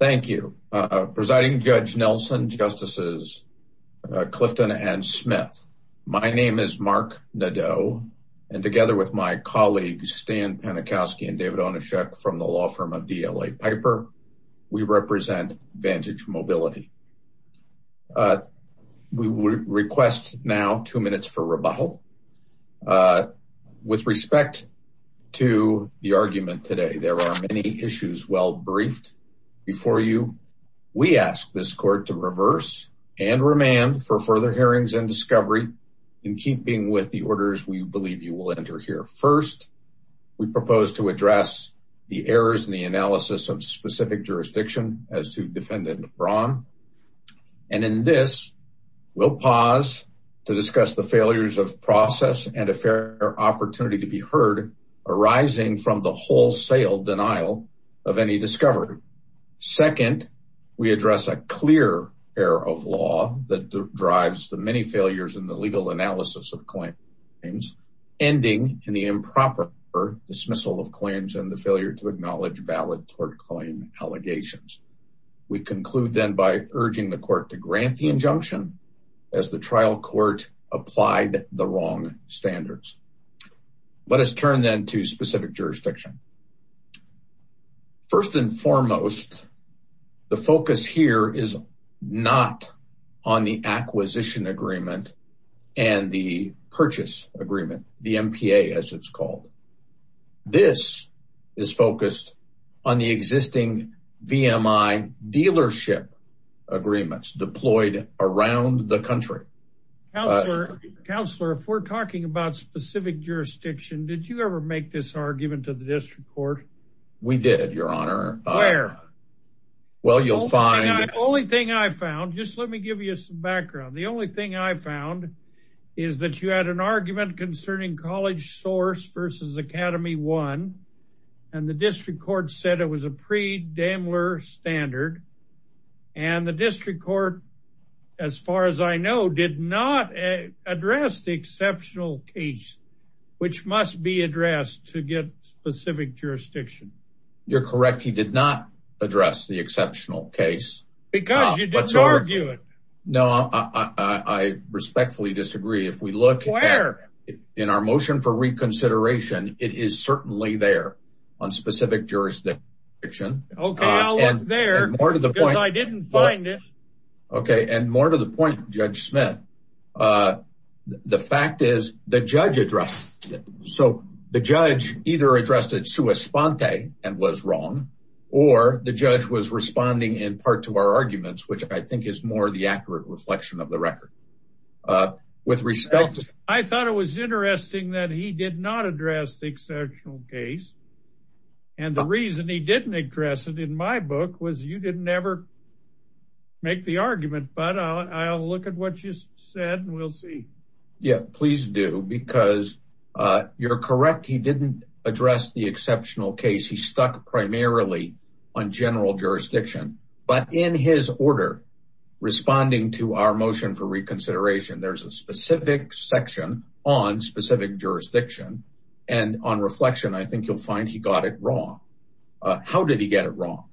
Thank you. Presiding Judge Nelson, Justices Clifton and Smith. My name is Mark Nadeau and together with my colleagues Stan Panikowsky and David Onyshek from the law firm of DLA Piper, we represent Vantage Mobility. We request now two minutes for rebuttal. With respect to the argument today, there are many issues well briefed before you. We ask this court to reverse and remand for further hearings and discovery in keeping with the orders we believe you will enter here. First, we propose to address the errors in the analysis of specific and a fair opportunity to be heard arising from the wholesale denial of any discovery. Second, we address a clear error of law that drives the many failures in the legal analysis of claims ending in the improper dismissal of claims and the failure to acknowledge valid tort claim allegations. We conclude then by urging the court to grant the injunction as the trial court applied the wrong standards. Let us turn then to specific jurisdiction. First and foremost, the focus here is not on the acquisition agreement and the purchase agreement, the MPA as it's called. This is focused on the existing VMI dealership agreements deployed around the country. Counselor, if we're talking about specific jurisdiction, did you ever make this argument to the district court? We did, your honor. Where? Well, you'll find... Only thing I found, just let me give you some background. The only thing I found is that you had an argument concerning College Source versus Academy One and the district said it was a pre-Daimler standard and the district court, as far as I know, did not address the exceptional case, which must be addressed to get specific jurisdiction. You're correct. He did not address the exceptional case. Because you didn't argue it. No, I respectfully disagree. If we look in our motion for reconsideration, it is certainly there on specific jurisdiction. Okay, I'll look there because I didn't find it. Okay, and more to the point, Judge Smith, the fact is the judge addressed it. So the judge either addressed it sua sponte and was wrong or the judge was responding in part to our arguments, which I think is more the accurate reflection of the record. With respect... I thought it was interesting that he did not address the exceptional case. And the reason he didn't address it in my book was you didn't ever make the argument, but I'll look at what you said and we'll see. Yeah, please do because you're correct. He didn't address the exceptional case. He stuck primarily on general jurisdiction, but in his order, responding to our motion for reconsideration, there's a specific section on specific jurisdiction. And on reflection, I think you'll find he got it wrong. How did he get it wrong?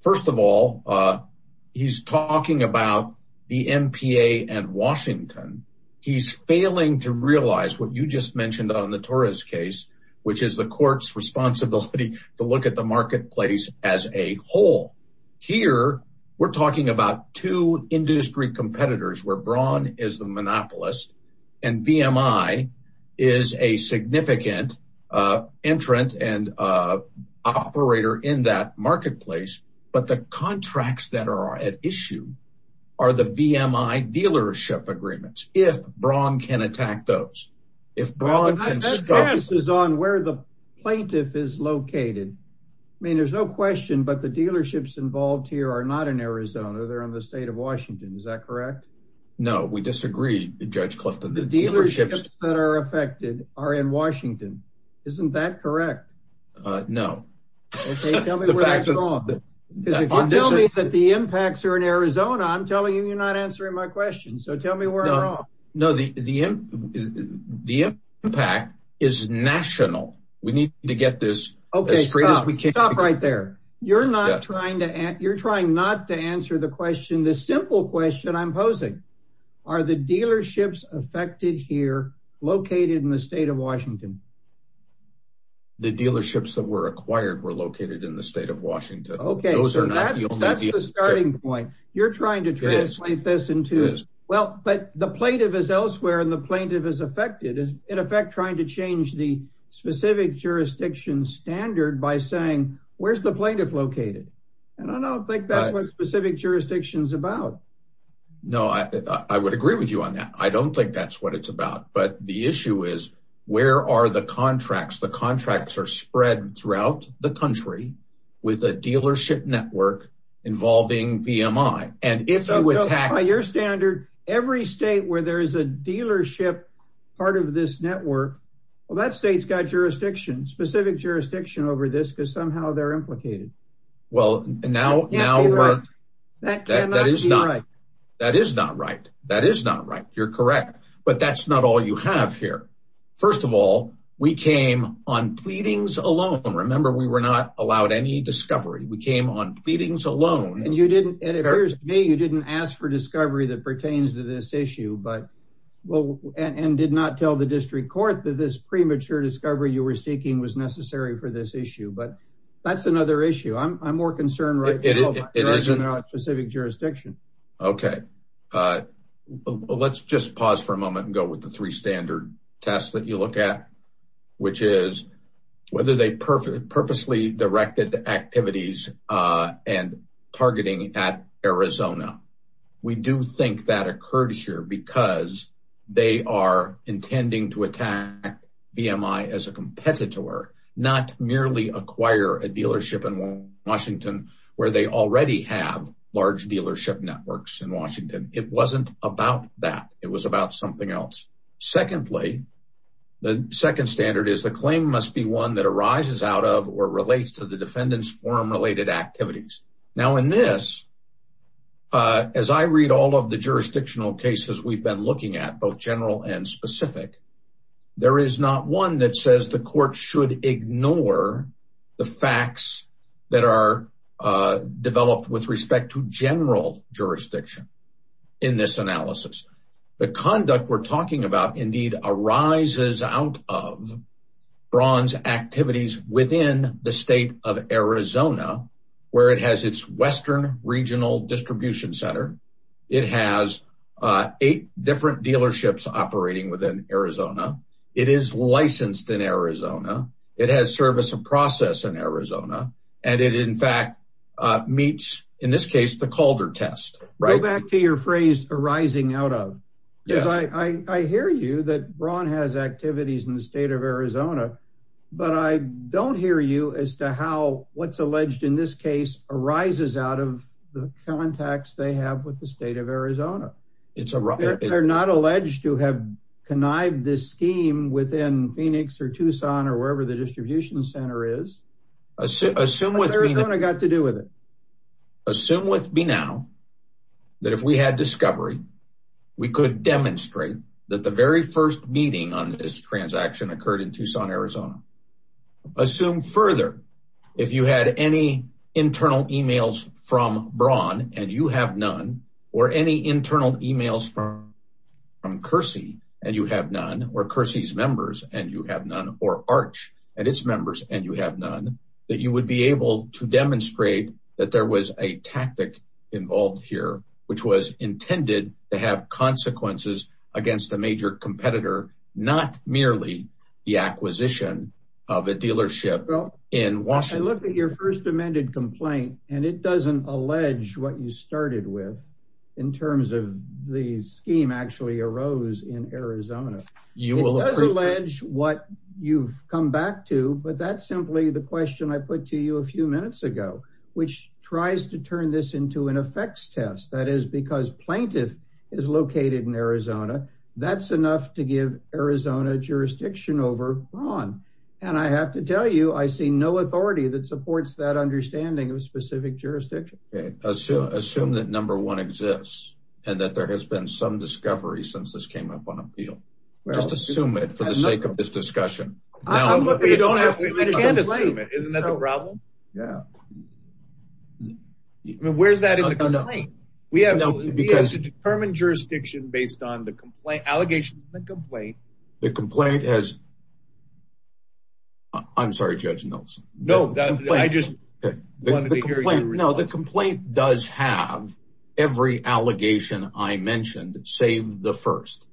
First of all, he's talking about the MPA and Washington. He's failing to realize what you just mentioned on the Torres case, which is the court's responsibility to look at the marketplace as a whole. Here, we're talking about two industry competitors where Braun is the monopolist, and VMI is a significant entrant and operator in that marketplace. But the contracts that are at issue are the VMI dealership agreements, if Braun can attack those. If Braun can stop... I'm not sure this is on where the plaintiff is located. I mean, there's no question, but the dealerships involved here are not in Arizona. They're in the state of Washington. Is that correct? No, we disagree, Judge Clifton. The dealerships that are affected are in Washington. Isn't that correct? No. Okay, tell me where that's wrong. If you tell me that the impacts are in Arizona, I'm telling you you're not answering my question. So tell me where I'm wrong. No, the impact is national. We need to get this... Stop right there. You're trying not to answer the question. The simple question I'm posing, are the dealerships affected here located in the state of Washington? The dealerships that were acquired were located in the state of Washington. Okay, so that's the starting point. You're trying to translate this into... Well, but the plaintiff is elsewhere, and the plaintiff is affected. In effect, trying to change the specific jurisdiction standard by saying, where's the plaintiff located? And I don't think that's what specific jurisdiction is about. No, I would agree with you on that. I don't think that's what it's about. But the issue is, where are the contracts? The contracts are spread throughout the country with a dealership network involving VMI. And if you attack... Part of this network, well, that state's got jurisdiction, specific jurisdiction over this, because somehow they're implicated. Well, now... That is not right. That is not right. You're correct. But that's not all you have here. First of all, we came on pleadings alone. Remember, we were not allowed any discovery. We came on pleadings alone. And you didn't, it appears to me, you didn't ask for discovery that pertains to this issue. But well, and did not tell the district court that this premature discovery you were seeking was necessary for this issue. But that's another issue. I'm more concerned right now about specific jurisdiction. Okay. Let's just pause for a moment and go with the three standard tests that you look at, which is whether they purposely directed activities and targeting at Arizona. We do think that occurred here because they are intending to attack VMI as a competitor, not merely acquire a dealership in Washington, where they already have large dealership networks in Washington. It wasn't about that. It was about something else. Secondly, the second standard is the claim must be one that arises out of or relates to the jurisdictional cases we've been looking at both general and specific. There is not one that says the court should ignore the facts that are developed with respect to general jurisdiction. In this analysis, the conduct we're talking about indeed arises out of bronze activities within the state of Arizona. It has eight different dealerships operating within Arizona. It is licensed in Arizona. It has service and process in Arizona. And it in fact, meets in this case, the Calder test. Go back to your phrase arising out of. I hear you that Braun has activities in the state of Arizona, but I don't hear you as to how what's alleged in this case arises out of the contacts they have with the state of Arizona. They're not alleged to have connived this scheme within Phoenix or Tucson or wherever the distribution center is. Assume with me now that if we had discovery, we could demonstrate that the very first meeting on this transaction occurred in Tucson, Arizona. Assume further, if you had any internal emails from Braun and you have none or any internal emails from Kersey and you have none or Kersey's members and you have none or arch and its members and you have none that you would be able to demonstrate that there was a tactic involved here, which was of a dealership in Washington. I looked at your first amended complaint and it doesn't allege what you started with in terms of the scheme actually arose in Arizona. It does allege what you've come back to, but that's simply the question I put to you a few minutes ago, which tries to turn this into an effects test. That is because plaintiff is located in Arizona. That's enough to give Arizona jurisdiction over Braun. I have to tell you, I see no authority that supports that understanding of a specific jurisdiction. Assume that number one exists and that there has been some discovery since this came up on appeal. Just assume it for the sake of this discussion. We can't assume it, isn't that the problem? Where's that in the complaint? We have to determine jurisdiction based on the allegations in the complaint. The complaint does have every allegation I mentioned, save the first.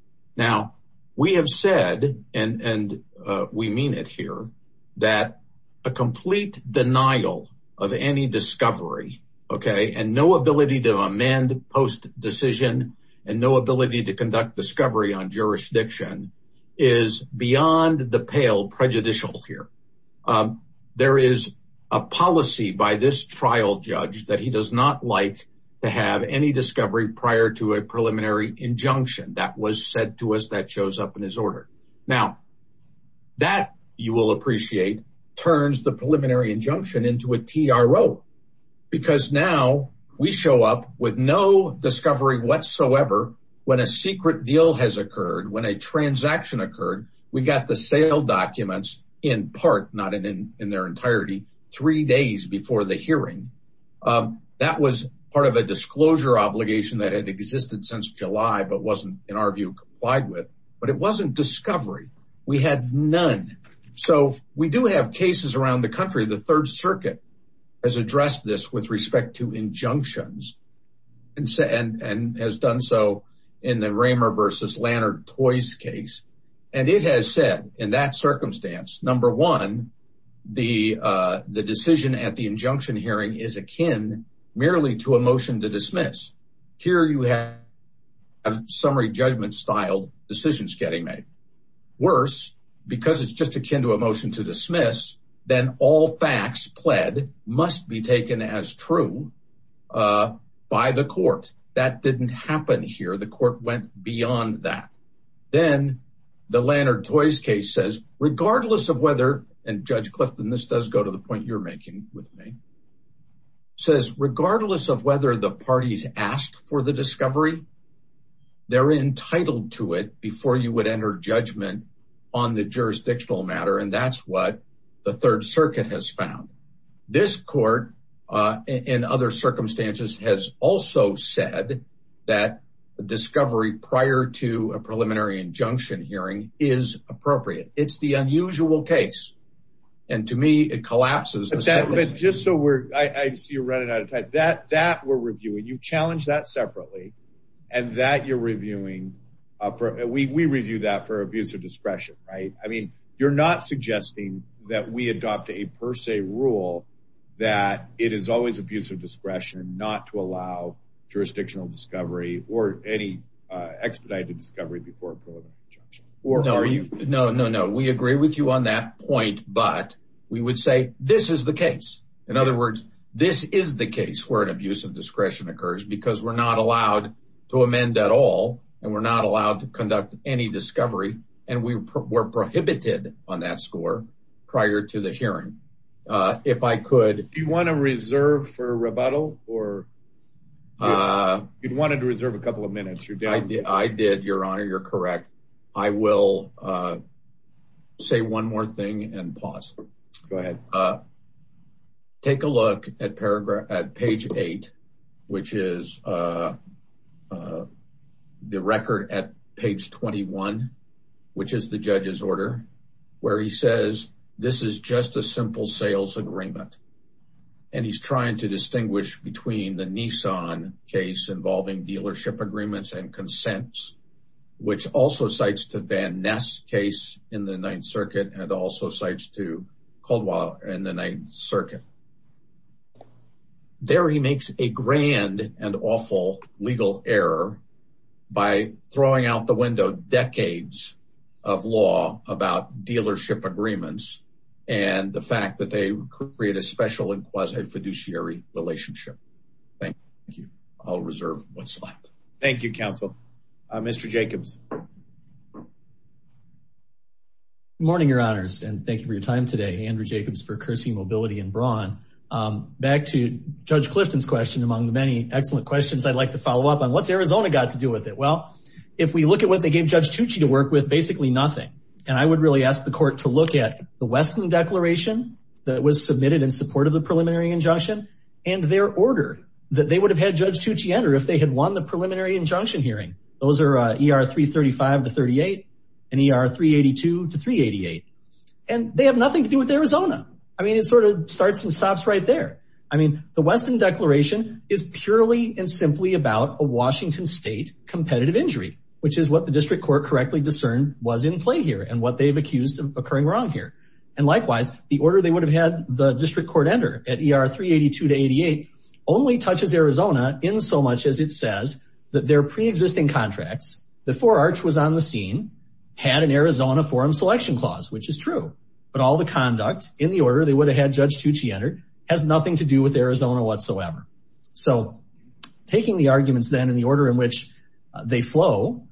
We have said, and we mean it here, that a complete denial of any discovery, and no ability to amend post decision, and no ability to conduct discovery on jurisdiction is beyond the pale prejudicial here. There is a policy by this trial judge that he does not like to have any discovery prior to a preliminary injunction that was said to us that shows up in Now, that, you will appreciate, turns the preliminary injunction into a TRO, because now we show up with no discovery whatsoever when a secret deal has occurred, when a transaction occurred. We got the sale documents in part, not in their entirety, three days before the hearing. That was part of a disclosure obligation that had existed since July, but wasn't, in our view, complied with, but it wasn't discovery. We had none. So, we do have cases around the country. The Third Circuit has addressed this with respect to injunctions, and has done so in the Raymer versus Lannert-Toyce case, and it has said, in that circumstance, number one, the decision at the injunction hearing is akin merely to a summary judgment styled decisions getting made. Worse, because it's just akin to a motion to dismiss, then all facts pled must be taken as true by the court. That didn't happen here. The court went beyond that. Then, the Lannert-Toyce case says, regardless of whether, and Judge Clifton, this does go to the point you're making with me, says, regardless of whether the parties asked for the discovery, they're entitled to it before you would enter judgment on the jurisdictional matter, and that's what the Third Circuit has found. This court, in other circumstances, has also said that the discovery prior to a preliminary injunction hearing is appropriate. It's the unusual case, and to me, it collapses. But just so we're, I see you're running out of time. That we're reviewing. You've challenged that separately, and that you're reviewing. We review that for abuser discretion, right? I mean, you're not suggesting that we adopt a per se rule that it is always abuser discretion not to allow jurisdictional discovery or any expedited discovery before a preliminary injunction. No, no, no. We agree with you on that point, but we would say, this is the case. In other words, this is the case where an abuse of discretion occurs, because we're not allowed to amend at all, and we're not allowed to conduct any discovery, and we were prohibited on that score prior to the hearing. If I could... Do you want to reserve for rebuttal, or you wanted to reserve a couple of minutes? I did, Your Honor. You're correct. I will say one more thing and pause. Go ahead. Take a look at page eight, which is the record at page 21, which is the judge's order, where he says, this is just a simple sales agreement, and he's trying to distinguish between the Nissan case involving dealership agreements and consents, which also cites to Van Ness case in the Ninth Circuit and also cites to Caldwell in the Ninth Circuit. There he makes a grand and awful legal error by throwing out the window decades of law about dealership agreements and the fact that they create a special and quasi-fiduciary relationship. Thank you. I'll reserve what's left. Thank you, counsel. Mr. Jacobs. Good morning, Your Honors, and thank you for your time today, Andrew Jacobs, for Kirsten Mobility and Braun. Back to Judge Clifton's question, among the many excellent questions I'd like to follow up on, what's Arizona got to do with it? Well, if we look at what they gave Judge Tucci to work with, basically nothing. And I would really ask the court to look at the Westland Declaration that was submitted in support of the preliminary injunction and their order that they would have had Judge Tucci enter if they had won the preliminary injunction hearing. Those are ER 335 to 38 and ER 382 to 388, and they have nothing to do with Arizona. I mean, it sort of starts and stops right there. I mean, the Westland Declaration is purely and simply about a Washington state competitive injury, which is what the district court correctly discerned was in play here and they've accused of occurring wrong here. And likewise, the order they would have had the district court enter at ER 382 to 388 only touches Arizona in so much as it says that their pre-existing contracts, before Arch was on the scene, had an Arizona forum selection clause, which is true. But all the conduct in the order they would have had Judge Tucci enter has nothing to do with Arizona whatsoever. So taking the arguments then in the order in which they flow,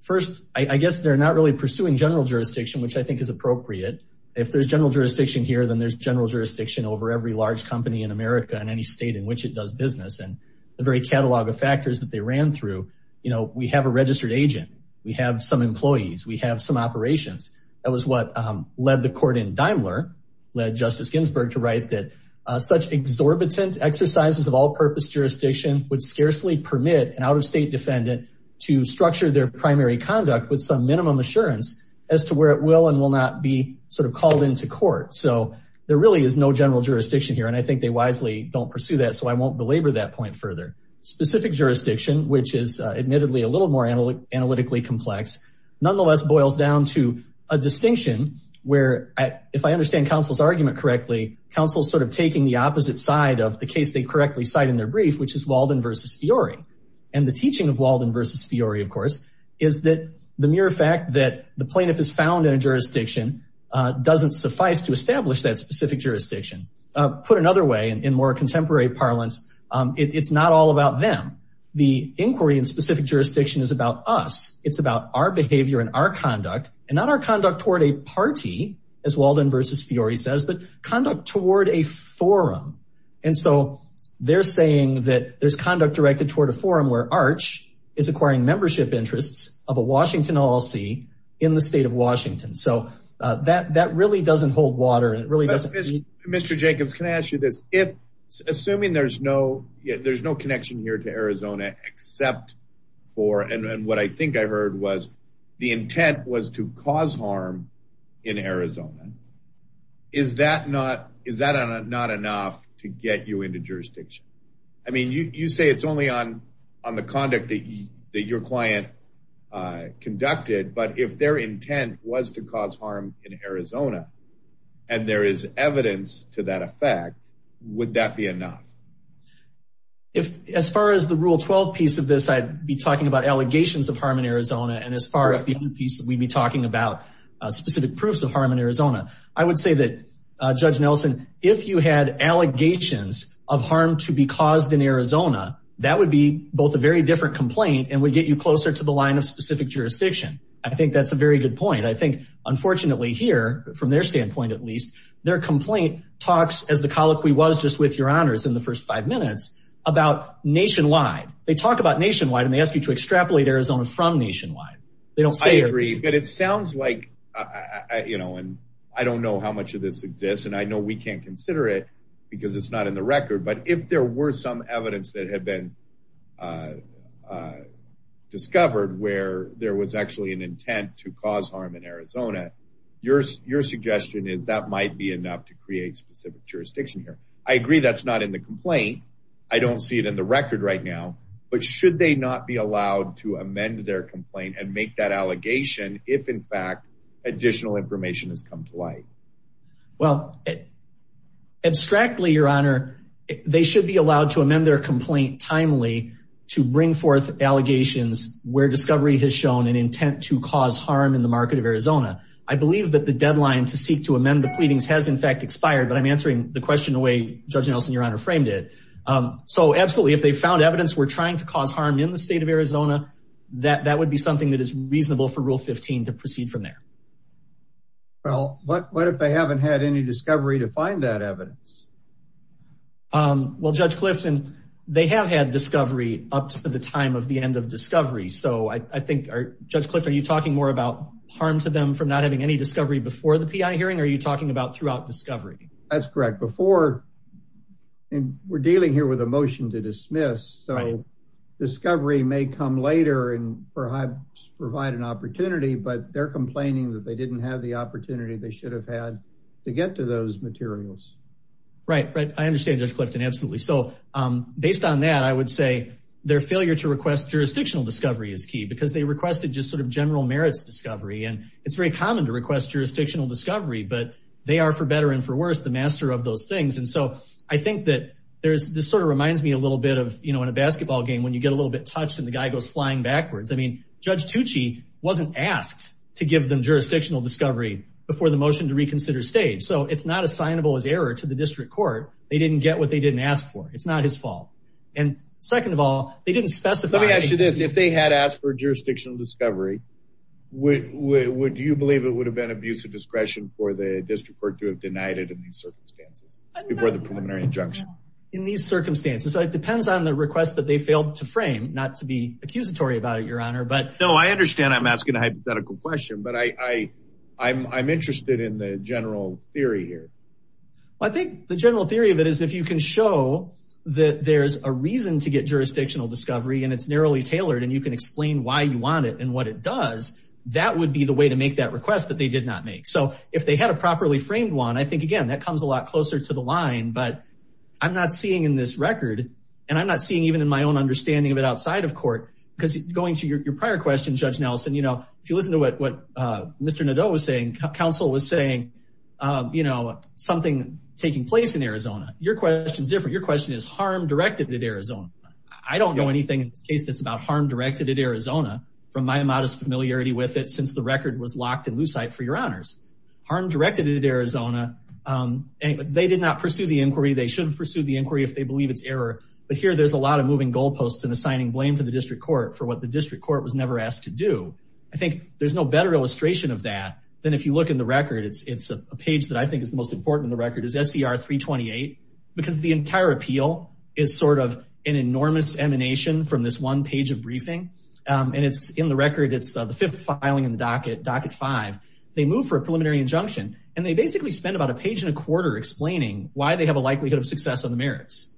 first, I guess they're not really pursuing general jurisdiction, which I think is appropriate. If there's general jurisdiction here, then there's general jurisdiction over every large company in America in any state in which it does business. And the very catalog of factors that they ran through, you know, we have a registered agent, we have some employees, we have some operations. That was what led the court in Daimler, led Justice Ginsburg to write that such exorbitant exercises of all purpose jurisdiction would scarcely permit an out-of-state defendant to structure their primary conduct with some minimum assurance as to where it will and will not be sort of called into court. So there really is no general jurisdiction here, and I think they wisely don't pursue that, so I won't belabor that point further. Specific jurisdiction, which is admittedly a little more analytically complex, nonetheless boils down to a distinction where, if I understand counsel's argument correctly, counsel's sort of taking the opposite side of the case they correctly cite in their brief, which is Walden versus Fiori, of course, is that the mere fact that the plaintiff is found in a jurisdiction doesn't suffice to establish that specific jurisdiction. Put another way, in more contemporary parlance, it's not all about them. The inquiry in specific jurisdiction is about us. It's about our behavior and our conduct, and not our conduct toward a party, as Walden versus Fiori says, but conduct toward a forum. And so they're saying that there's conduct directed toward a membership interest of a Washington LLC in the state of Washington. So that really doesn't hold water. Mr. Jacobs, can I ask you this? Assuming there's no connection here to Arizona except for, and what I think I heard was the intent was to cause harm in Arizona, is that not enough to get you into jurisdiction? I mean, you say it's only on the conduct that your client conducted, but if their intent was to cause harm in Arizona, and there is evidence to that effect, would that be enough? As far as the Rule 12 piece of this, I'd be talking about allegations of harm in Arizona. And as far as the piece that we'd be talking about specific proofs of harm in Arizona, I would say that, Judge Nelson, if you had allegations of harm to be caused in Arizona, that would be both a very different complaint and would get you closer to the line of specific jurisdiction. I think that's a very good point. I think, unfortunately here, from their standpoint, at least, their complaint talks, as the colloquy was just with your honors in the first five minutes, about nationwide. They talk about nationwide and they ask you to extrapolate Arizona from nationwide. I agree, but it sounds like, I don't know how much of this exists, and I know we can't consider it because it's not in the record, but if there were some evidence that had been discovered where there was actually an intent to cause harm in Arizona, your suggestion is that might be enough to create specific jurisdiction here. I agree that's not in the complaint. I don't see it in the record right now, but should they not be allowed to amend their complaint and make that allegation if, in fact, additional information has come to light? Well, abstractly, your honor, they should be allowed to amend their complaint timely to bring forth allegations where discovery has shown an intent to cause harm in the market of Arizona. I believe that the deadline to seek to amend the pleadings has, in fact, expired, but I'm answering the question the way Judge Nelson, your honor, framed it. So absolutely, if they found evidence we're trying to cause harm in the state of Arizona, that would be reasonable for Rule 15 to proceed from there. Well, what if they haven't had any discovery to find that evidence? Well, Judge Clifton, they have had discovery up to the time of the end of discovery. So I think, Judge Clifton, are you talking more about harm to them from not having any discovery before the P.I. hearing or are you talking about throughout discovery? That's correct. Before, and we're dealing here with a motion to dismiss, so discovery may come later and provide an opportunity, but they're complaining that they didn't have the opportunity they should have had to get to those materials. Right, right. I understand, Judge Clifton. Absolutely. So based on that, I would say their failure to request jurisdictional discovery is key because they requested just sort of general merits discovery. And it's very common to request jurisdictional discovery, but they are, for better and for worse, the master of those things. And so I think that there's, this sort of reminds me a little bit of, you know, in a basketball game, when you get a little bit touched and the guy goes flying backwards. I mean, Judge Tucci wasn't asked to give them jurisdictional discovery before the motion to reconsider stage. So it's not assignable as error to the district court. They didn't get what they didn't ask for. It's not his fault. And second of all, they didn't specify... Let me ask you this. If they had asked for jurisdictional discovery, would you believe it would have been abuse of discretion for the district court to have denied it in these circumstances before the preliminary injunction? In these circumstances. So it depends on the request that they failed to frame, not to be accusatory about it, Your Honor, but... No, I understand I'm asking a hypothetical question, but I'm interested in the general theory here. Well, I think the general theory of it is if you can show that there's a reason to get jurisdictional discovery and it's narrowly tailored and you can explain why you want it and what it does, that would be the way to make that request that they did not make. So if they had a properly framed one, I think, again, that comes a lot closer to the line, but I'm not seeing in this record, and I'm not seeing even in my own understanding of it outside of court, because going to your prior question, Judge Nelson, if you listen to what Mr. Nadeau was saying, counsel was saying, something taking place in Arizona. Your question is different. Your question is harm directed at Arizona. I don't know anything in this case that's about harm directed at Arizona from my modest familiarity with it since the record was locked for your honors. Harm directed at Arizona, they did not pursue the inquiry. They shouldn't pursue the inquiry if they believe it's error, but here there's a lot of moving goalposts and assigning blame to the district court for what the district court was never asked to do. I think there's no better illustration of that than if you look in the record. It's a page that I think is the most important in the record is SCR 328, because the entire appeal is sort of an enormous emanation from this one page of briefing. It's in the record. It's the fifth filing in the docket, docket five. They move for a preliminary injunction, and they basically spend about a page and a quarter explaining why they have a likelihood of success on the merits.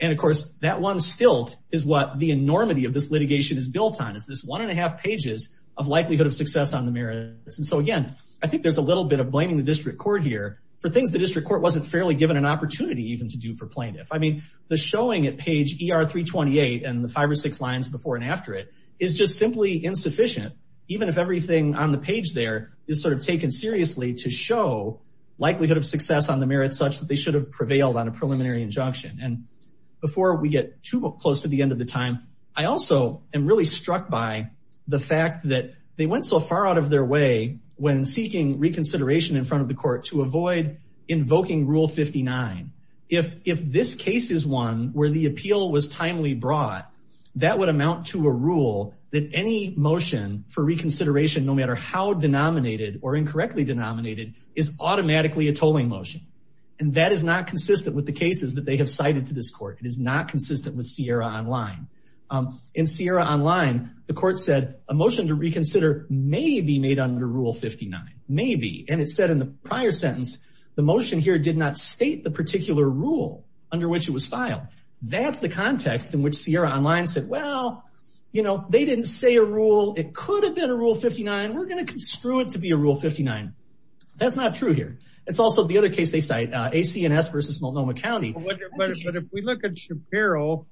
Of course, that one stilt is what the enormity of this litigation is built on, is this one and a half pages of likelihood of success on the merits. Again, I think there's a little bit of blaming the district court here for things the district court wasn't fairly given an opportunity even to do for plaintiff. I mean, the showing at page ER 328 and the five or six lines before and after it is just simply insufficient, even if everything on the page there is sort of taken seriously to show likelihood of success on the merits such that they should have prevailed on a preliminary injunction. And before we get too close to the end of the time, I also am really struck by the fact that they went so far out of their way when seeking reconsideration in front of the court to avoid invoking rule 59. If this case is one where the appeal was timely brought, that would amount to a rule that any motion for reconsideration, no matter how denominated or incorrectly denominated, is automatically a tolling motion. And that is not consistent with the cases that they have cited to this court. It is not consistent with Sierra Online. In Sierra Online, the court said a motion to reconsider may be made under rule 59. Maybe. And it said in the prior sentence, the motion here did not state the particular rule under which it was filed. That is the context in which Sierra Online said, well, you know, they did not say a rule. It could have been a rule 59. We are going to construe it to be a rule 59. That is not true here. It is also the other case they cite, AC&S versus Multnomah County. But if we look at Shapiro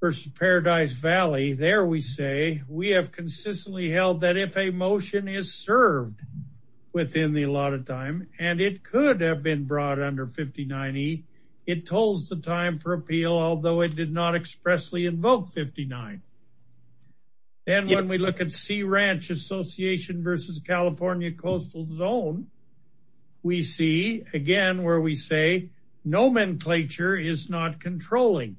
versus Paradise Valley, there we say we have consistently held that if a rule 59 is served within the allotted time, and it could have been brought under 59E, it tolls the time for appeal, although it did not expressly invoke 59. Then when we look at Sea Ranch Association versus California Coastal Zone, we see again where we say nomenclature is not controlling.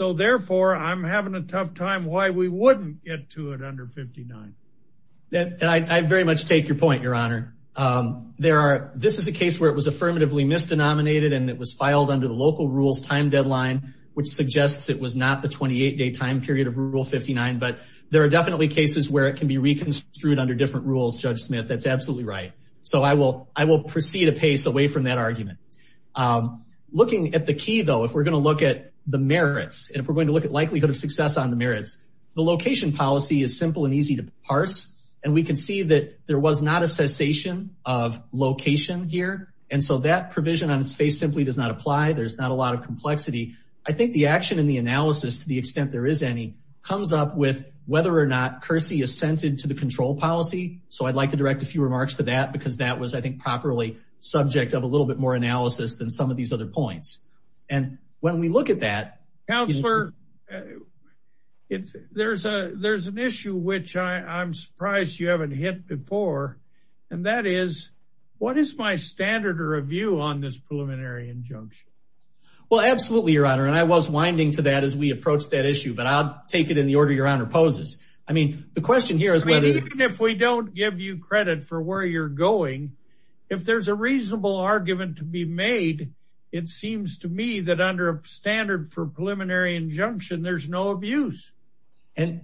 So therefore, I am having a tough time why we would not get to it under 59. I very much take your point, Your Honor. This is a case where it was affirmatively misdenominated and it was filed under the local rules time deadline, which suggests it was not the 28-day time period of rule 59. But there are definitely cases where it can be reconstituted under different rules, Judge Smith. That is absolutely right. So I will proceed a pace away from that argument. Looking at the key, though, if we are going to look at the merits and if we are going to look at the likelihood of success on the merits, the location policy is simple and easy to parse. And we can see that there was not a cessation of location here. And so that provision on its face simply does not apply. There is not a lot of complexity. I think the action in the analysis, to the extent there is any, comes up with whether or not CURSI is centered to the control policy. So I would like to direct a few remarks to that because that was, I think, properly subject of a little bit more analysis than some of these other points. And when we look at that, it's, there's a, there's an issue which I'm surprised you haven't hit before. And that is, what is my standard of review on this preliminary injunction? Well, absolutely, Your Honor. And I was winding to that as we approach that issue, but I'll take it in the order Your Honor poses. I mean, the question here is whether... I mean, even if we don't give you credit for where you're going, if there's a reasonable argument to be made, it seems to me that under a standard for preliminary injunction, there's no abuse. And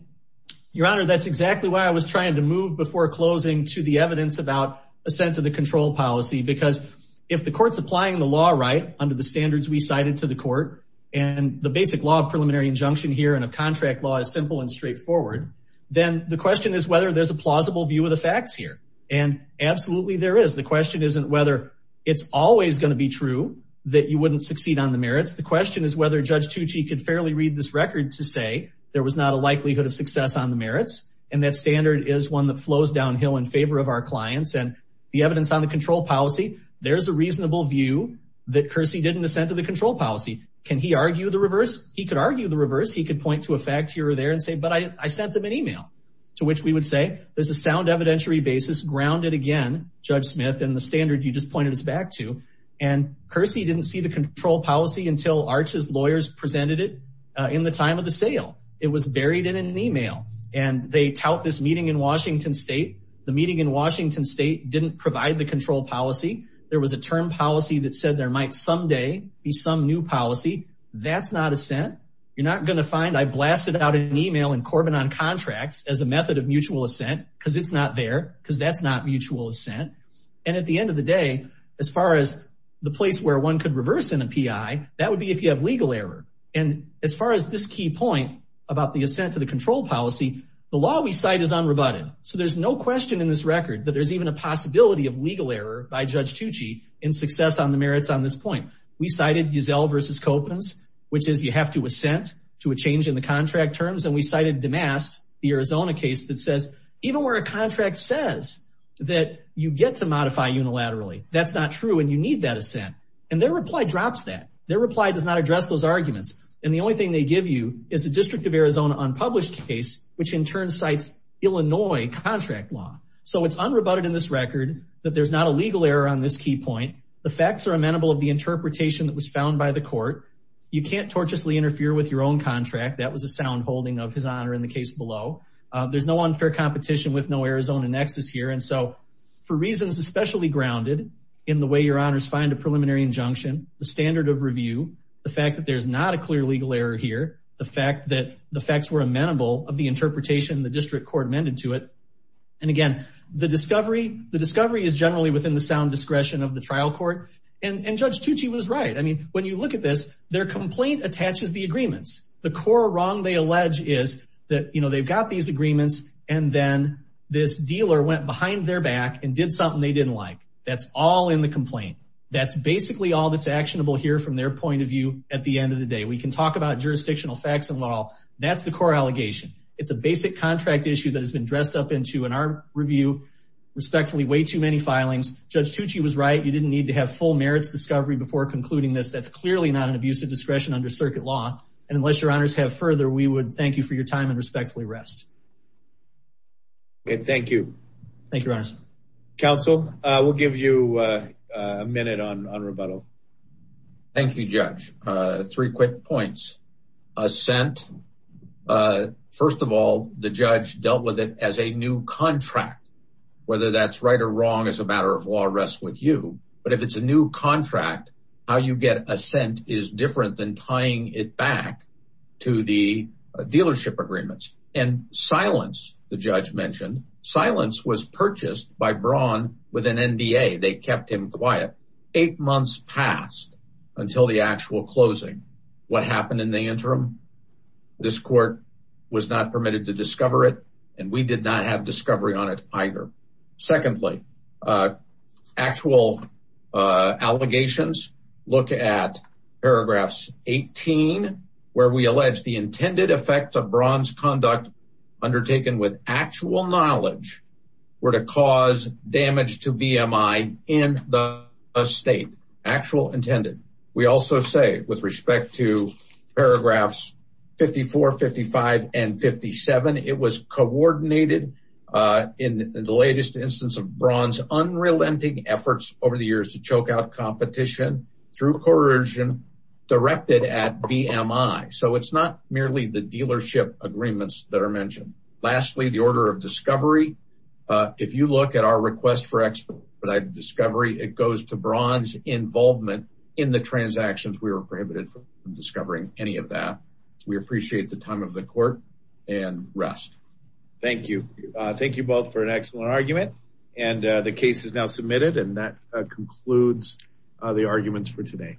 Your Honor, that's exactly why I was trying to move before closing to the evidence about assent to the control policy, because if the court's applying the law right under the standards we cited to the court and the basic law of preliminary injunction here and a contract law is simple and straightforward, then the question is whether there's a plausible view of the facts here. And absolutely there is. The question isn't whether it's always going to be true that you wouldn't succeed on the merits. The question is whether Judge Tucci could fairly read this record to say there was not a likelihood of success on the merits. And that standard is one that flows downhill in favor of our clients. And the evidence on the control policy, there's a reasonable view that Kersey didn't assent to the control policy. Can he argue the reverse? He could argue the reverse. He could point to a fact here or there and say, but I sent them an email. To which we would say, there's a sound evidentiary basis grounded again, Judge Smith, in the standard you just pointed us back to. And Kersey didn't see control policy until Arch's lawyers presented it in the time of the sale. It was buried in an email and they tout this meeting in Washington State. The meeting in Washington State didn't provide the control policy. There was a term policy that said there might someday be some new policy. That's not assent. You're not going to find I blasted out an email in Corbin on contracts as a method of mutual assent because it's not there because that's not mutual assent. And at the end of the day, as far as the place where one could reverse in a PI, that would be if you have legal error. And as far as this key point about the assent to the control policy, the law we cite is unrebutted. So there's no question in this record that there's even a possibility of legal error by Judge Tucci in success on the merits on this point. We cited Giselle versus Copens, which is you have to assent to a change in the contract terms. And we cited the Arizona case that says even where a contract says that you get to modify unilaterally, that's not true. And you need that assent. And their reply drops that their reply does not address those arguments. And the only thing they give you is a district of Arizona unpublished case, which in turn cites Illinois contract law. So it's unrebutted in this record that there's not a legal error on this key point. The facts are amenable of the interpretation that was found by the court. You can't torturously interfere with your own contract. That was a sound holding of his honor in the case below. There's no unfair competition with no Arizona nexus here. And so for reasons, especially grounded in the way your honors find a preliminary injunction, the standard of review, the fact that there's not a clear legal error here, the fact that the facts were amenable of the interpretation, the district court amended to it. And again, the discovery, the discovery is generally within the sound discretion of the trial court. And Judge Tucci was right. I mean, when you look at this, their complaint attaches the agreements, the core wrong. They allege is that, you know, they've got these agreements and then this dealer went behind their back and did something they didn't like. That's all in the complaint. That's basically all that's actionable here from their point of view. At the end of the day, we can talk about jurisdictional facts and law. That's the core allegation. It's a basic contract issue that has been dressed up into an art review, respectfully, way too many filings. Judge Tucci was right. You didn't need to have full merits discovery before concluding this. That's clearly not an abuse of discretion under circuit law. And unless your honors have further, we would thank you for your time and respectfully rest. Okay, thank you. Thank you, Your Honor. Counsel, we'll give you a minute on rebuttal. Thank you, Judge. Three quick points. Assent. First of all, the judge dealt with it as a new contract, whether that's right or wrong is a matter of law rests with you. But if it's a new contract, how you get assent is different than tying it back to the dealership agreements and silence. The judge mentioned silence was purchased by Braun with an NDA. They kept him quiet. Eight months passed until the actual closing. What happened in the interim? This court was not permitted to discover it, and we did not have discovery on it either. Secondly, actual allegations. Look at paragraphs 18, where we allege the intended effects of Braun's conduct undertaken with actual knowledge were to cause damage to VMI in the state. Actual intended. We also say, with respect to paragraphs 54, 55, and in the latest instance of Braun's unrelenting efforts over the years to choke out competition through coercion directed at VMI. So it's not merely the dealership agreements that are mentioned. Lastly, the order of discovery. If you look at our request for expedited discovery, it goes to Braun's involvement in the transactions. We were prohibited from discovering any of that. We both for an excellent argument, and the case is now submitted, and that concludes the arguments for today.